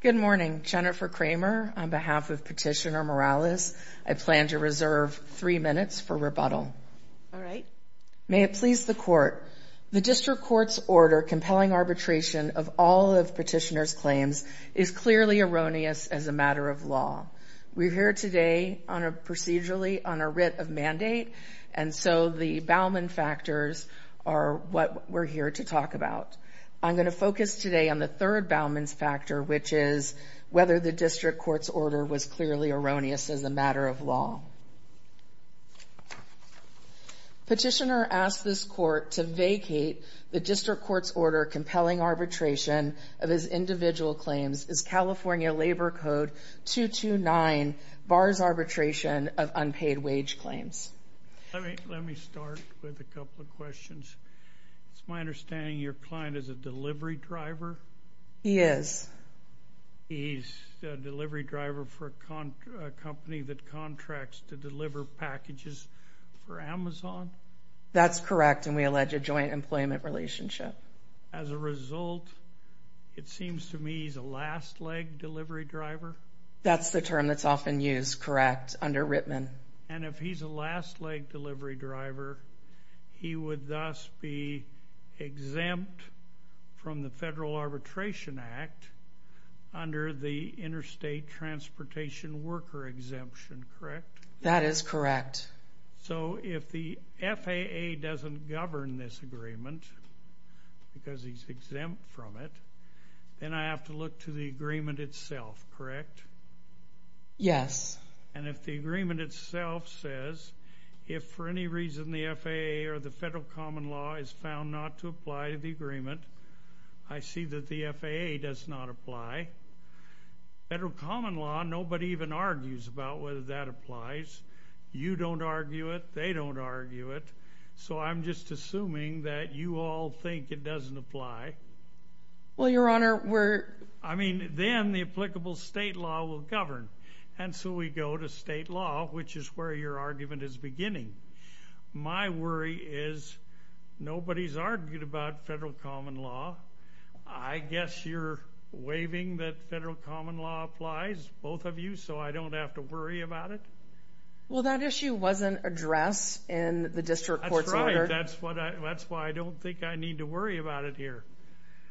Good morning, Jennifer Kramer. On behalf of Petitioner Morales, I plan to reserve three minutes for rebuttal. May it please the Court, the District Court's order compelling arbitration of all of Petitioner's claims is clearly erroneous as a matter of law. We are here today procedurally on a writ of mandate, and so the Bauman factors are what we're here to talk about. I'm going to focus today on the third Bauman's factor, which is whether the District Court's order was clearly erroneous as a matter of law. Petitioner asked this Court to vacate the District Court's order compelling arbitration of his individual claims as California Labor Code 229 bars arbitration of unpaid wage claims. Let me start with a couple of questions. It's my understanding your client is a delivery driver? He is. He's a delivery driver for a company that contracts to deliver packages for Amazon? That's correct, and we allege a joint employment relationship. As a result, it seems to me he's a last leg delivery driver? That's the term that's often used, correct, under Rittman. And if he's a last leg delivery driver, he would thus be exempt from the Federal Arbitration Act under the Interstate Transportation Worker Exemption, correct? That is correct. So if the FAA doesn't govern this agreement because he's exempt from it, then I have to look to the agreement itself, correct? Yes. And if the agreement itself says, if for any reason the FAA or the Federal Common Law is found not to apply to the agreement, I see that the FAA does not apply. Federal Common Law, nobody even argues about whether that applies. You don't argue it. They don't argue it. So I'm just assuming that you all think it doesn't apply. Well, Your Honor, we're... I mean, then the applicable state law will govern. And so we go to state law, which is where your argument is beginning. My worry is nobody's argued about Federal Common Law. I guess you're waiving that Federal Common Law applies, both of you, so I don't have to worry about it? Well, that issue wasn't addressed in the district court's order. That's right. That's why I don't think I need to worry about it here.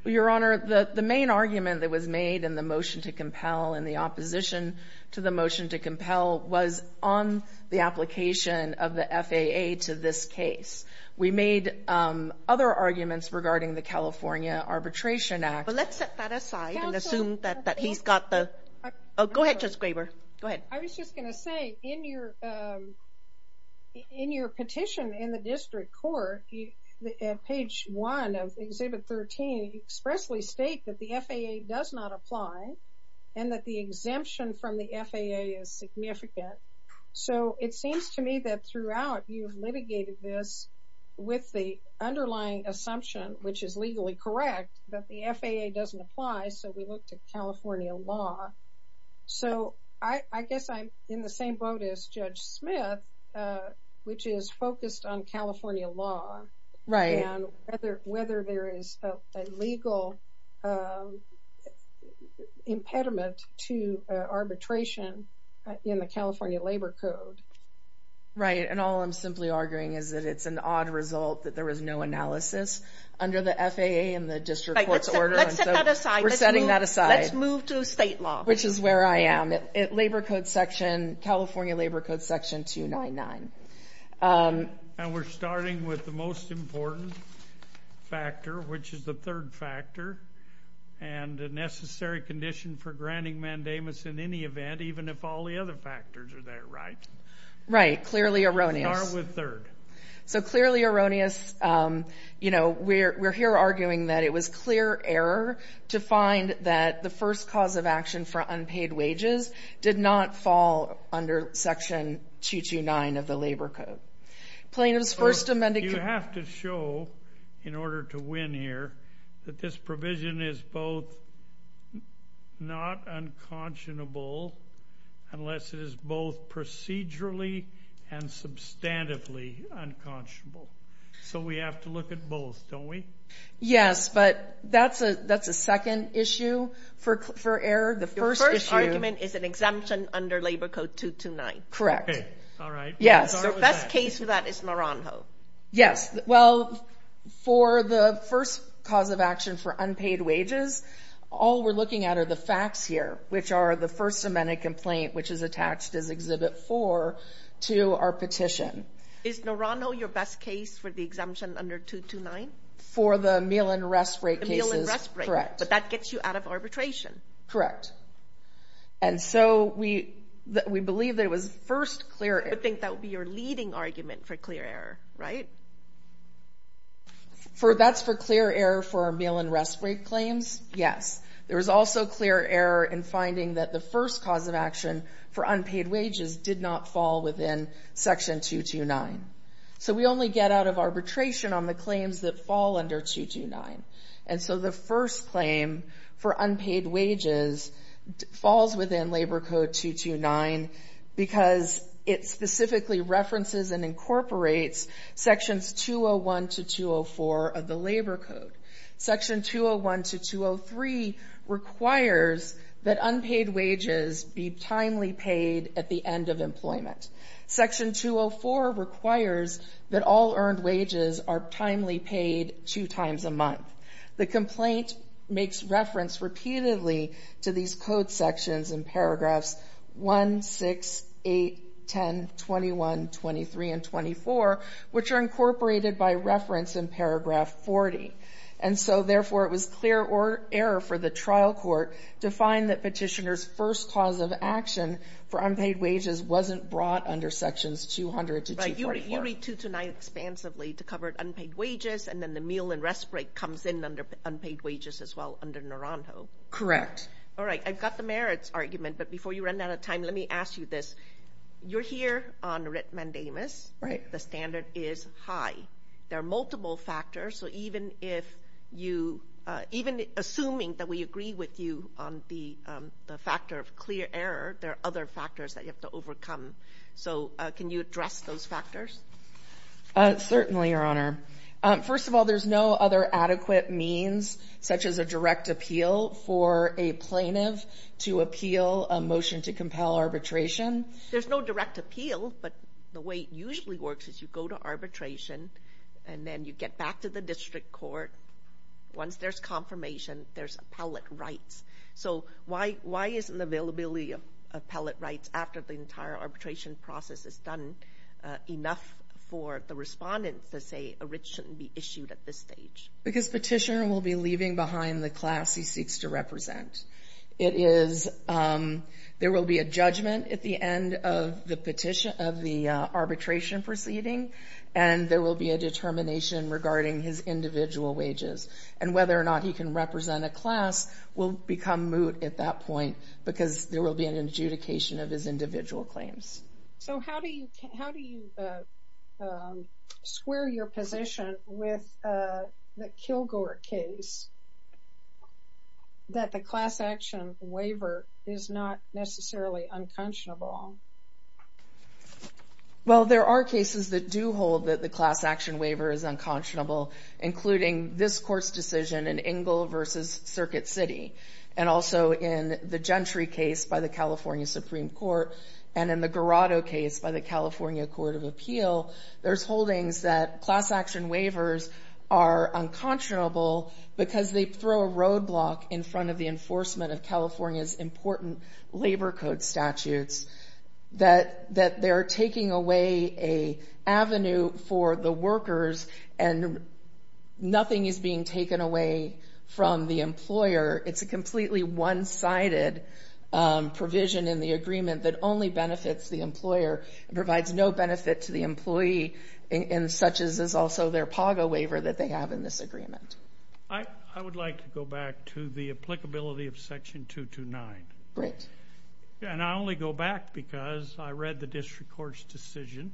Your Honor, the main argument that was made in the motion to compel and the opposition to the motion to compel was on the application of the FAA to this case. We made other arguments regarding the California Arbitration Act. But let's set that aside and assume that he's got the... Oh, go ahead, Justice Graber. Go ahead. I was just going to say, in your petition in the district court, page 1 of Exhibit 13, you expressly state that the FAA does not apply and that the exemption from the FAA is significant. So it seems to me that throughout you've litigated this with the underlying assumption, which is legally correct, that the FAA doesn't apply, so we look to California law. So I guess I'm in the same boat as Judge Smith, which is focused on California law and whether there is a legal impediment to the FAA. I'm simply arguing that it's an odd result that there is no analysis under the FAA and the district court's order. Let's set that aside. We're setting that aside. Let's move to state law. Which is where I am. Labor Code section, California Labor Code section 299. And we're starting with the most important factor, which is the third factor, and the necessary condition for granting mandamus in any event, even if all the other factors are there, right? Right. Clearly erroneous. We are with third. So clearly erroneous. You know, we're here arguing that it was clear error to find that the first cause of action for unpaid wages did not fall under section 229 of the Labor Code. Plaintiffs first amended You have to show, in order to win here, that this provision is both not unconscionable unless it is both procedurally and substantively unconscionable. So we have to look at both, don't we? Yes, but that's a second issue for error. The first issue Your first argument is an exemption under Labor Code 229. Correct. Okay. All right. Yes. The best case for that is Naranjo. Yes. Well, for the first cause of action for unpaid wages, all we're looking at are the facts here, which are the first amendment complaint, which is attached as Exhibit 4 to our petition. Is Naranjo your best case for the exemption under 229? For the meal and rest break cases? Correct. But that gets you out of arbitration. Correct. And so we believe that it was first clear error. I think that would be your leading argument for clear error, right? That's for clear error for our meal and rest break claims? Yes. There was also clear error in finding that the first cause of action for unpaid wages did not fall within Section 229. So we only get out of arbitration on the claims that fall under 229. And so the first claim for unpaid wages falls within Labor Code 229 because it specifically references and incorporates Sections 201 to 204 of the Labor Code. Section 201 to 203 requires that unpaid wages be timely paid at the end of employment. Section 204 requires that all earned wages are timely paid two times a month. The complaint makes reference repeatedly to these code sections in paragraphs 1, 6, 8, 10, 21, 23, and 24, which are incorporated by reference in paragraph 40. And so, therefore, it was clear error for the trial court to find that petitioner's first cause of action for unpaid wages wasn't brought under Sections 200 to 244. Right. You read 229 expansively to cover unpaid wages, and then the meal and rest break comes in under unpaid wages as well under Naranjo. Correct. All right. I've got the merits argument, but before you run out of time, let me ask you this. You're here on writ mandamus. Right. The standard is high. There are multiple factors. Even assuming that we agree with you on the factor of clear error, there are other factors that you have to overcome. So can you address those factors? Certainly, Your Honor. First of all, there's no other adequate means, such as a direct appeal for a plaintiff to appeal a motion to compel arbitration. There's no direct appeal, but the way it usually works is you go to arbitration, and then you get back to the district court. Once there's confirmation, there's appellate rights. So why isn't the availability of appellate rights after the entire arbitration process is done enough for the respondents to say a writ shouldn't be issued at this stage? Because petitioner will be leaving behind the class he seeks to represent. There will be a judgment at the end of the arbitration proceeding, and there will be a determination regarding his individual wages. And whether or not he can represent a class will become moot at that point, because there will be an adjudication of his individual claims. So how do you square your position with the that the class action waiver is not necessarily unconscionable? Well, there are cases that do hold that the class action waiver is unconscionable, including this court's decision in Engle v. Circuit City, and also in the Gentry case by the California Supreme Court, and in the Garado case by the California Court of Appeal, there's holdings that class action waivers are unconscionable because they throw a roadblock in front of the enforcement of California's important labor code statutes, that they're taking away an avenue for the workers, and nothing is being taken away from the employer. It's a completely one-sided provision in the agreement that only benefits the employer, and provides no benefit to the employee, and such is also their PAGA waiver that they have in this agreement. I would like to go back to the applicability of Section 229. Great. And I only go back because I read the district court's decision,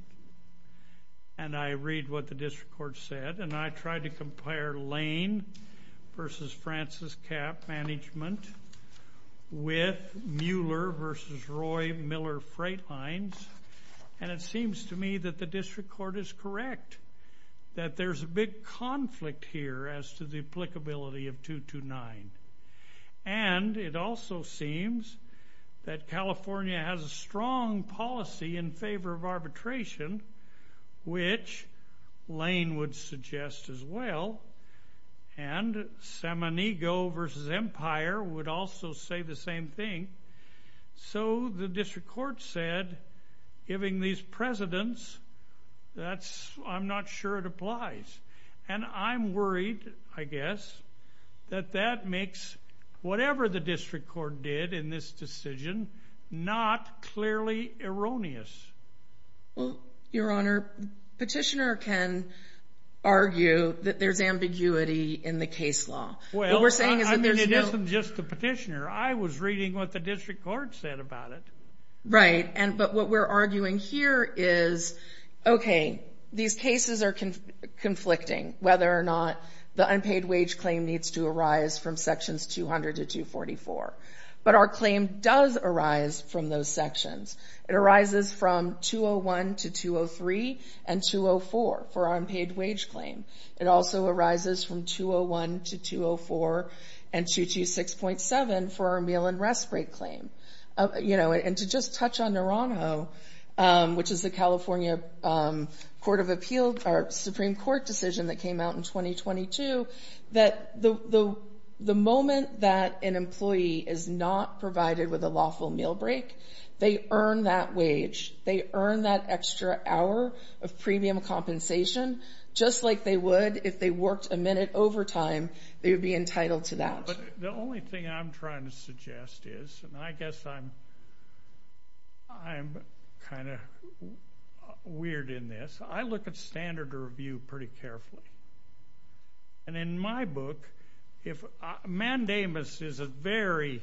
and I read what the district court said, and I tried to compare Lane v. Francis Capp Management with Mueller v. Roy Miller Freight Lines, and it seems to me that the district court is correct, that there's a big conflict here as to the applicability of 229. And it also seems that California has a strong policy in favor of arbitration, which Lane would suggest as well, and Sammonego v. Empire would also say the same thing. I'm not sure it applies. And I'm worried, I guess, that that makes whatever the district court did in this decision not clearly erroneous. Well, Your Honor, the petitioner can argue that there's ambiguity in the case law. Well, I mean, it isn't just the petitioner. I was reading what the district court said about it. Right. But what we're arguing here is, okay, these cases are conflicting, whether or not the unpaid wage claim needs to arise from Sections 200 to 244. But our claim does arise from those sections. It arises from 201 to 203 and 204 for our unpaid wage claim. It also arises from 201 to 204 and 226.7 for our meal and rest break claim. You know, and to just touch on Naranjo, which is the California Supreme Court decision that came out in 2022, that the moment that an employee is not provided with a lawful meal break, they earn that wage. They earn that extra hour of premium compensation just like they would if they worked a minute overtime. They would be entitled to that. The only thing I'm trying to suggest is, and I guess I'm kind of weird in this, I look at standard review pretty carefully. And in my book, mandamus is a very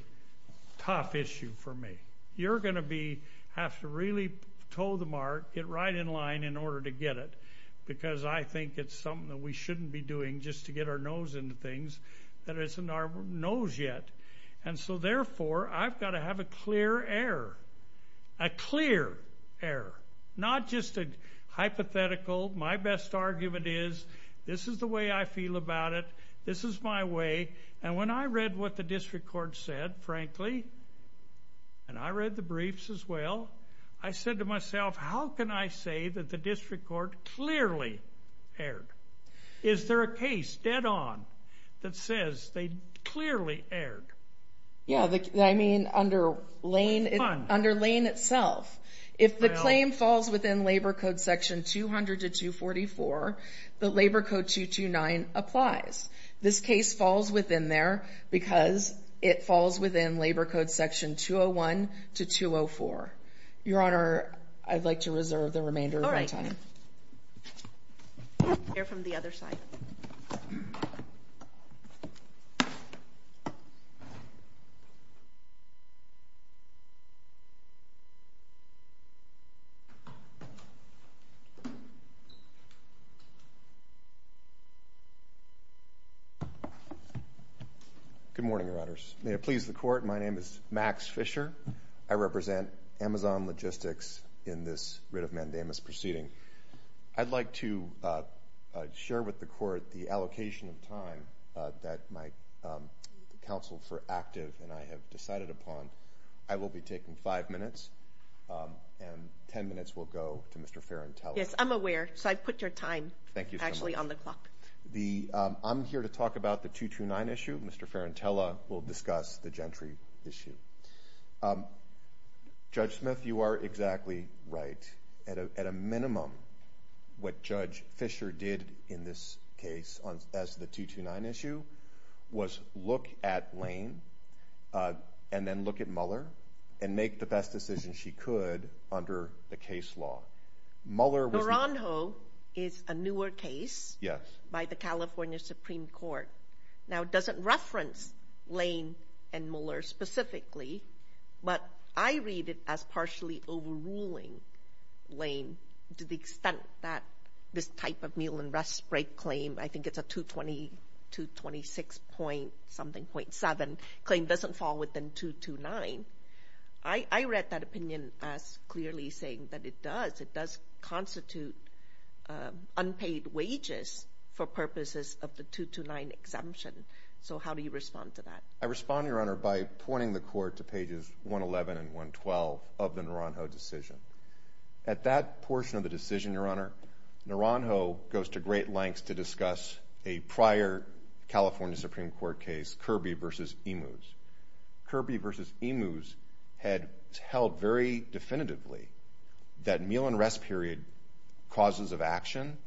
tough issue for me. You're going to have to really toe the mark, get right in line in order to get it, because I think it's something that we shouldn't be doing just to get our nose into things that isn't our nose yet. And so therefore, I've got to have a clear error. A clear error. Not just a hypothetical, my best argument is, this is the way I feel about it. This is my way. And when I read what the district court said, frankly, and I read the briefs as well, I said to myself, how can I say that the district court clearly erred? Is there a case dead on that says they clearly erred? Yeah, I mean under Lane itself. If the claim falls within labor code section 200 to 244, the labor code 229 applies. This case falls within there because it falls within labor code section 201 to 204. Your honor, I'd like to reserve the remainder of my time. All right. We'll hear from the other side. Good morning, your honors. May it please the court, my name is Max Fisher. I represent Amazon Logistics in this writ of mandamus proceeding. I'd like to share with the court the allocation of time that my counsel for active and I have decided upon. I will be taking five minutes and ten minutes will go to Mr. Ferrantella. Yes, I'm aware, so I put your time actually on the clock. I'm here to talk about the 229 issue. Mr. Ferrantella will discuss the Gentry issue. Judge Smith, you are exactly right. At a minimum, what Judge Fisher did in this case as the 229 issue was look at Lane and then look at Muller and make the best decision she could under the case law. Muller was... Naranjo is a newer case by the California Supreme Court. Now it doesn't reference Lane and Muller specifically, but I read it as partially overruling Lane to the extent that this type of meal and rest break claim, I think it's a 226 point something point seven claim doesn't fall within 229. I read that opinion as clearly saying that it does. It does constitute unpaid wages for purposes of the 229 exemption. So how do you respond to that? I respond, Your Honor, by pointing the court to pages 111 and 112 of the Naranjo decision. At that portion of the decision, Your Honor, Naranjo goes to great lengths to discuss a prior California Supreme Court case, Kirby v. Emus. Kirby v. Emus had held very definitively that meal and rest period causes of action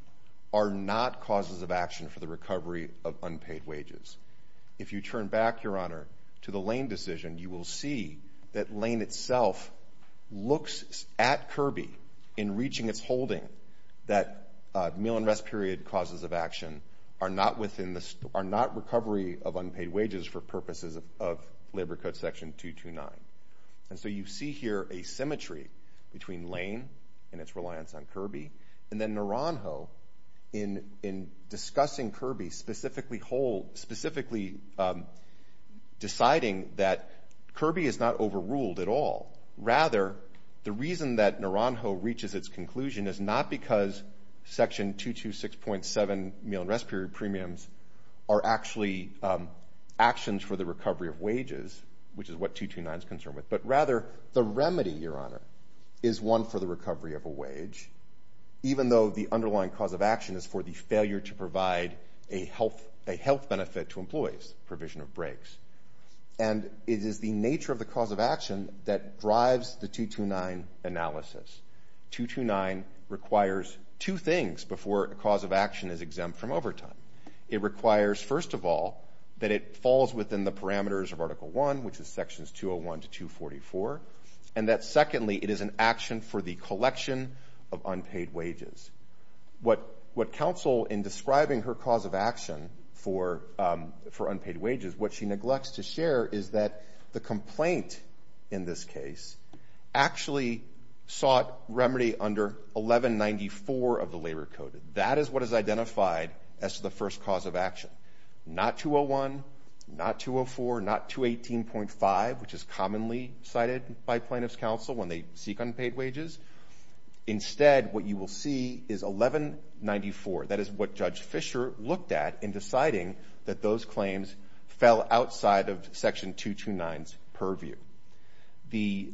are not causes of action for the recovery of unpaid wages. If you turn back, Your Honor, to the Lane decision, you will see that Lane itself looks at Kirby in reaching its holding that meal and rest period causes of action are not recovery of unpaid wages for purposes of labor code section 229. And so you see here a symmetry between Lane and its reliance on Kirby and then Naranjo in discussing Kirby specifically deciding that Kirby is not overruled at all. Rather, the reason that Naranjo reaches its conclusion is not because section 226.7 meal and rest period premiums are actually actions for the recovery of wages, which is what 229 is concerned with, but rather the remedy, Your Honor, is one for the recovery of a wage, even though the underlying cause of action is for the failure to provide a health benefit to employees, provision of breaks. And it is the nature of the cause of action that drives the 229 analysis. 229 requires two things before a cause of action is exempt from overtime. It requires, first of all, that it falls within the parameters of Article I, which is sections 201 to 244, and that, secondly, it is an action for the collection of unpaid wages. What counsel, in describing her cause of action for unpaid wages, what she neglects to share is that the complaint in this case actually sought remedy under 1194 of the Labor Code. That is what is identified as the first cause of action. Not 201, not 204, not 218.5, which is commonly cited by plaintiff's counsel when they seek unpaid wages. Instead, what you will see is 1194. That is what Judge Fischer looked at in deciding that those claims fell outside of section 229's purview. The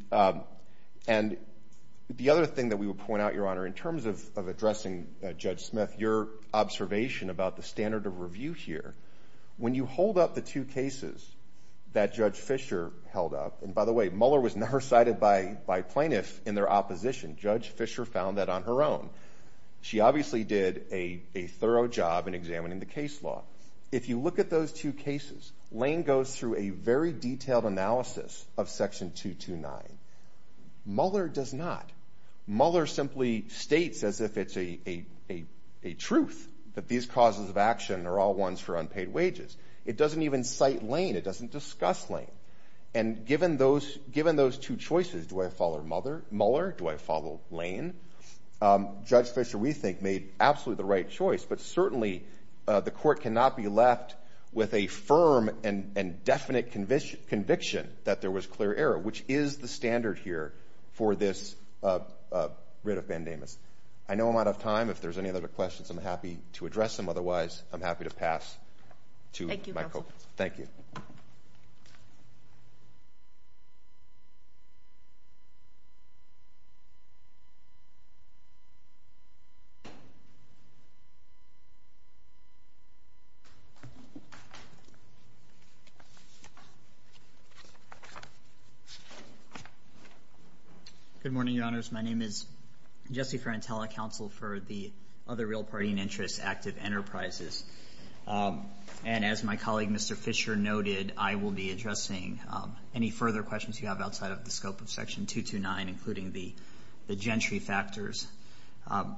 other thing that we would point out, Your Honor, in terms of addressing Judge Smith, your observation about the standard of review here, when you hold up the two cases that Judge Fischer held up, and by the way, Mueller was never cited by plaintiffs in their opposition. Judge Fischer found that on her own. She obviously did a thorough job in examining the case law. If you look at those two cases, Lane goes through a very detailed analysis of section 229. Mueller does not. Mueller simply states as if it's a truth that these causes of action are all ones for unpaid wages. It doesn't even cite Lane. It doesn't discuss Lane. And given those two choices, do I follow Mueller? Do I follow Lane? Judge Fischer, we think, made absolutely the right choice, but certainly the Court cannot be left with a firm and definite conviction that there was clear error, which is the standard here for this writ of bandamas. I know I'm out of time. If there's any other questions, I'm happy to address them. Otherwise, I'm happy to pass to my co-counsel. Thank you. Good morning, Your Honors. My name is Jesse Frantella, counsel for the other real party in interest, Active Enterprises. And as my colleague, Mr. Fischer, noted, I will be addressing any further questions you have outside of the scope of section 229, including the gentry factors.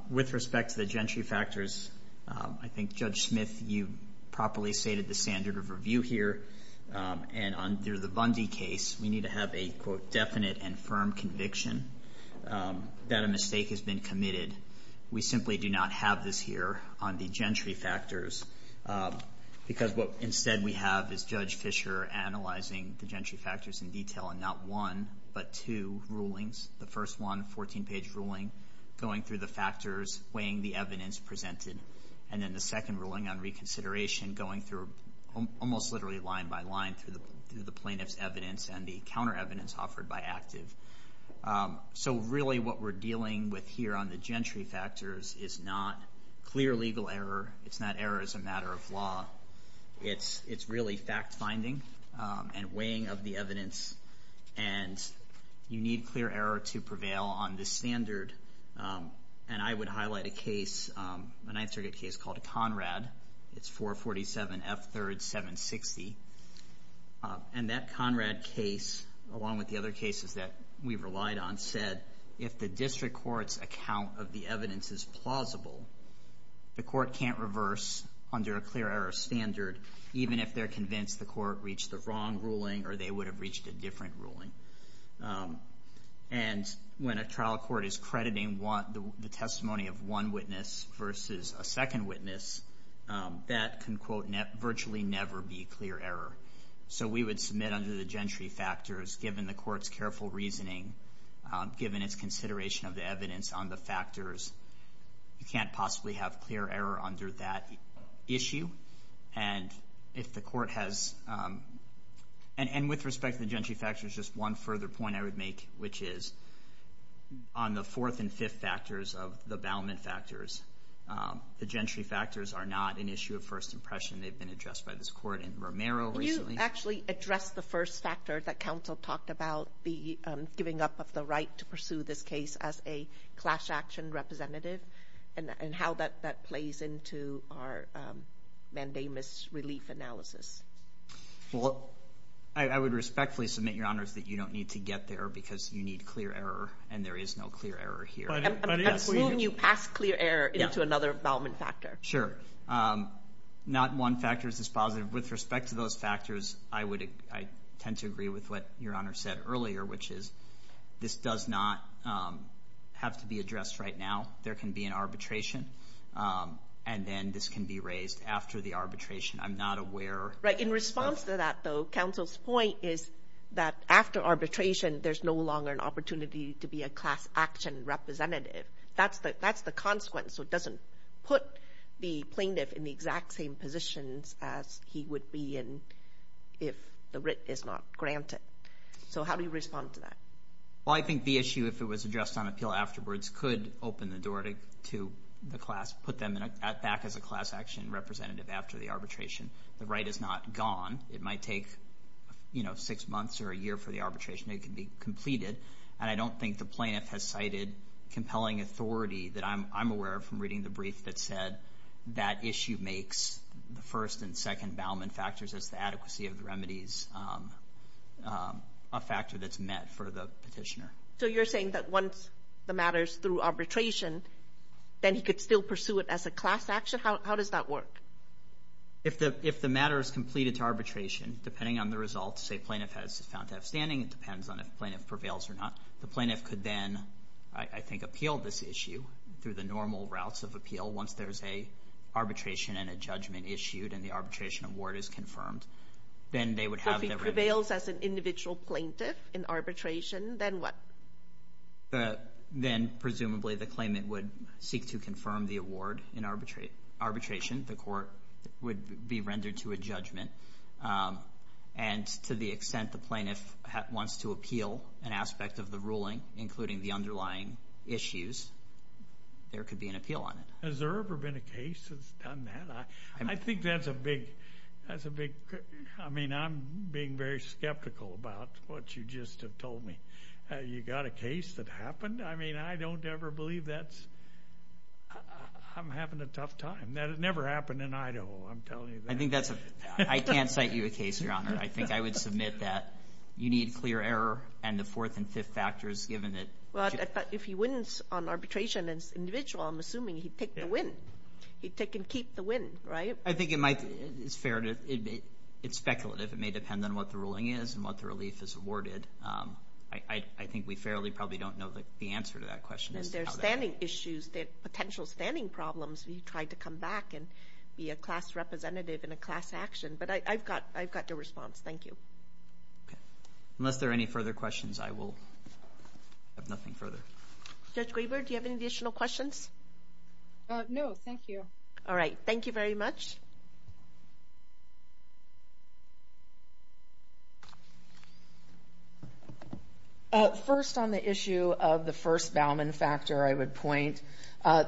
With respect to the gentry factors, I think, Judge Smith, you properly stated the standard of review here. And under the Bundy case, we need to have a, quote, definite and firm conviction that a mistake has been committed. We simply do not have this here on the gentry factors, because what, instead, we have is Judge Fischer analyzing the gentry factors in detail in not one, but two rulings. The first one, a 14-page ruling, going through the factors, weighing the evidence presented. And then the second ruling on reconsideration, going through, almost literally line by line, through the plaintiff's evidence and the counter evidence offered by Active. So really, what we're dealing with here on the gentry factors is not clear legal error. It's not error as a matter of law. It's really fact-finding and weighing of the evidence. And you need clear error to prevail on the standard. And I would highlight a case, a Ninth Circuit case, called Conrad. It's 447 F. 3rd. 760. And that Conrad case, along with the other cases that we've relied on, said if the district court's account of the evidence is plausible, the court can't reverse under a clear error standard, even if they're convinced the court reached the wrong ruling or they would have reached a different ruling. And when a trial court is crediting the testimony of one witness versus a second witness, that can, quote, virtually never be clear error. So we would submit under the gentry factors, given the court's careful reasoning, given its consideration of the evidence on the factors, you can't possibly have clear error under that issue. And if the court has, and with respect to the gentry factors, just one further point I would make, which is on the fourth and fifth factors of the Ballamant factors, the gentry factors are not an issue of first impression. They've been addressed by this court in Romero recently. Can you actually address the first factor that counsel talked about, the giving up of the right to pursue this case as a clash action representative, and how that plays into our mandamus relief analysis? I would respectfully submit, Your Honors, that you don't need to get there because you need clear error, and there is no clear error here. I'm assuming you passed clear error into another Ballamant factor. Sure. Not one factor is positive. With respect to those factors, I tend to agree with what Your Honor said earlier, which is this does not have to be addressed right now. There can be an arbitration, and then this can be raised after the arbitration. I'm not aware of... In response to that, though, counsel's point is that after arbitration, there's no longer an opportunity to be a clash action representative. That's the consequence, so it doesn't put the plaintiff in the exact same positions as he would be in if the writ is not granted. So how do you respond to that? Well, I think the issue, if it was addressed on appeal afterwards, could open the door to the class, put them back as a clash action representative after the arbitration. The right is not gone. It might take six months or a year for the arbitration. It can be completed, and I don't think the plaintiff has cited compelling authority that I'm aware of from reading the brief that said that issue makes the first and second Ballamant factors as the adequacy of the remedies a factor that's met for the petitioner. So you're saying that once the matter's through arbitration, then he could still pursue it as a clash action? How does that work? If the matter is completed to arbitration, depending on the results a plaintiff has found to have standing, it depends on if the plaintiff prevails or not. The plaintiff could then, I think, appeal this issue through the normal routes of appeal once there's an arbitration and a judgment issued and the arbitration award is confirmed. If it prevails as an individual plaintiff in arbitration, then what? Then presumably the claimant would seek to confirm the award in arbitration. The court would be rendered to a judgment, and to the extent the plaintiff wants to appeal an aspect of the ruling, including the underlying issues, there could be an appeal on it. Has there ever been a case that's done that? I think that's a big... I mean, I'm being very skeptical about what you just have told me. You got a case that happened? I mean, I don't ever believe that's... I'm having a tough time. That has never happened in Idaho, I'm telling you that. I think that's a... I can't cite you a case, Your Honor. I think I would submit that you need clear error and the fourth and fifth factors given that... Well, if he wins on arbitration as an individual, I'm assuming he'd take the win. He'd take and keep the win, right? I think it might... It's speculative. It may depend on what the ruling is and what the relief is awarded. I think we fairly probably don't know the answer to that question. There are standing issues, there are potential standing problems. We've tried to come back and be a class representative in a class action, but I've got the response. Thank you. Unless there are any further questions, I will... I have nothing further. Judge Graber, do you have any additional questions? No, thank you. All right. Thank you very much. First on the issue of the first Bauman factor, I would point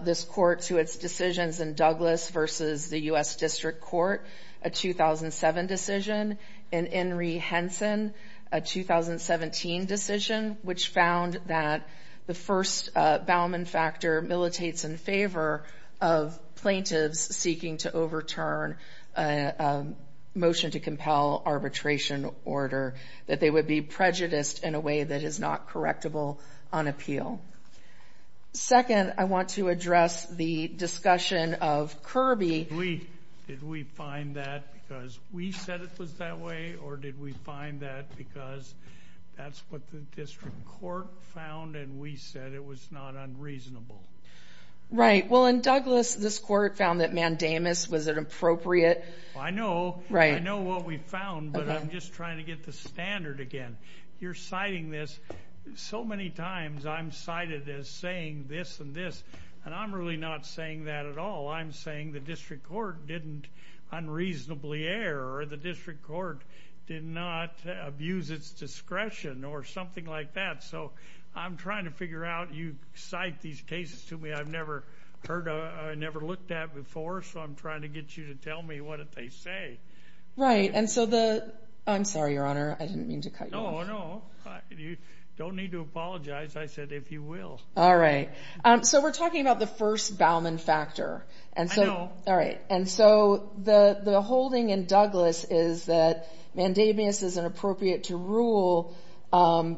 this court to its decisions in Douglas versus the U.S. District Court, a 2007 decision, and in Henson, a 2017 decision, which found that the first Bauman factor militates in favor of plaintiffs seeking to overturn a motion to compel arbitration order, that they would be prejudiced in a way that is not correctable on appeal. Second, I want to address the discussion of Kirby. Did we find that because we said it was that way, or did we find that because that's what the District Court found and we said it was not unreasonable? Right. Well, in Douglas, this court found that mandamus was inappropriate. I know. I know what we found, but I'm just trying to get the standard again. You're citing this so many times. I'm cited as saying this and this, and I'm really not saying that at all. I'm saying the District Court didn't unreasonably err, or the District Court did not abuse its discretion or something like that. So I'm trying to figure out, you cite these cases to me I've never heard of, never looked at before, so I'm trying to get you to tell me what did they say. Right. And so the, I'm sorry, Your Honor, I didn't mean to cut you off. No, no. You don't need to apologize. I said, if you will. All right. So we're talking about the first Bauman factor. I know. All right. And so the holding in Douglas is that mandamus is inappropriate to rule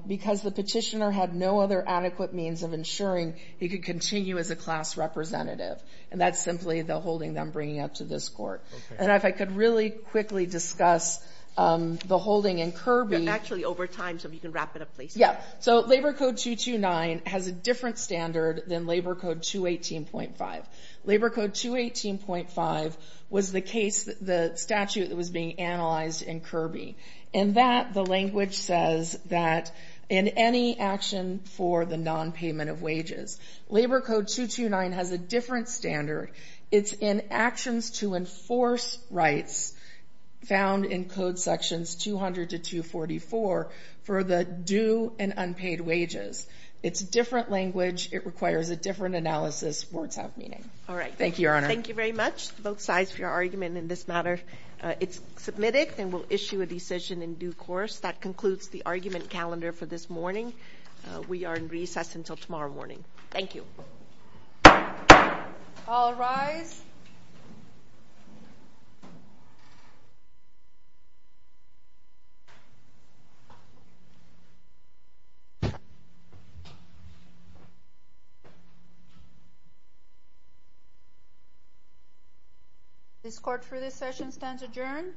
because the petitioner had no other adequate means of ensuring he could continue as a class representative. And that's simply the holding them bringing up to this court. And if I could really quickly discuss the holding in Kirby. Actually, over time, so if you can wrap it up, please. Yeah. So Labor Code 229 has a different standard than Labor Code 218.5. Labor Code 218.5 was the case, the statute that was being analyzed in Kirby. In that, the language says that in any action for the nonpayment of wages, Labor Code 229 has a different standard. It's in actions to enforce rights found in Code Sections 200 to 244 for the due and unpaid wages. It's a different language. It requires a different analysis. Words have meaning. All right. Thank you, Your Honor. Thank you very much, both sides, for your argument in this matter. It's submitted and we'll issue a decision in due course. That concludes the argument calendar for this morning. We are in recess until tomorrow morning. Thank you. All rise. This court for this session stands adjourned.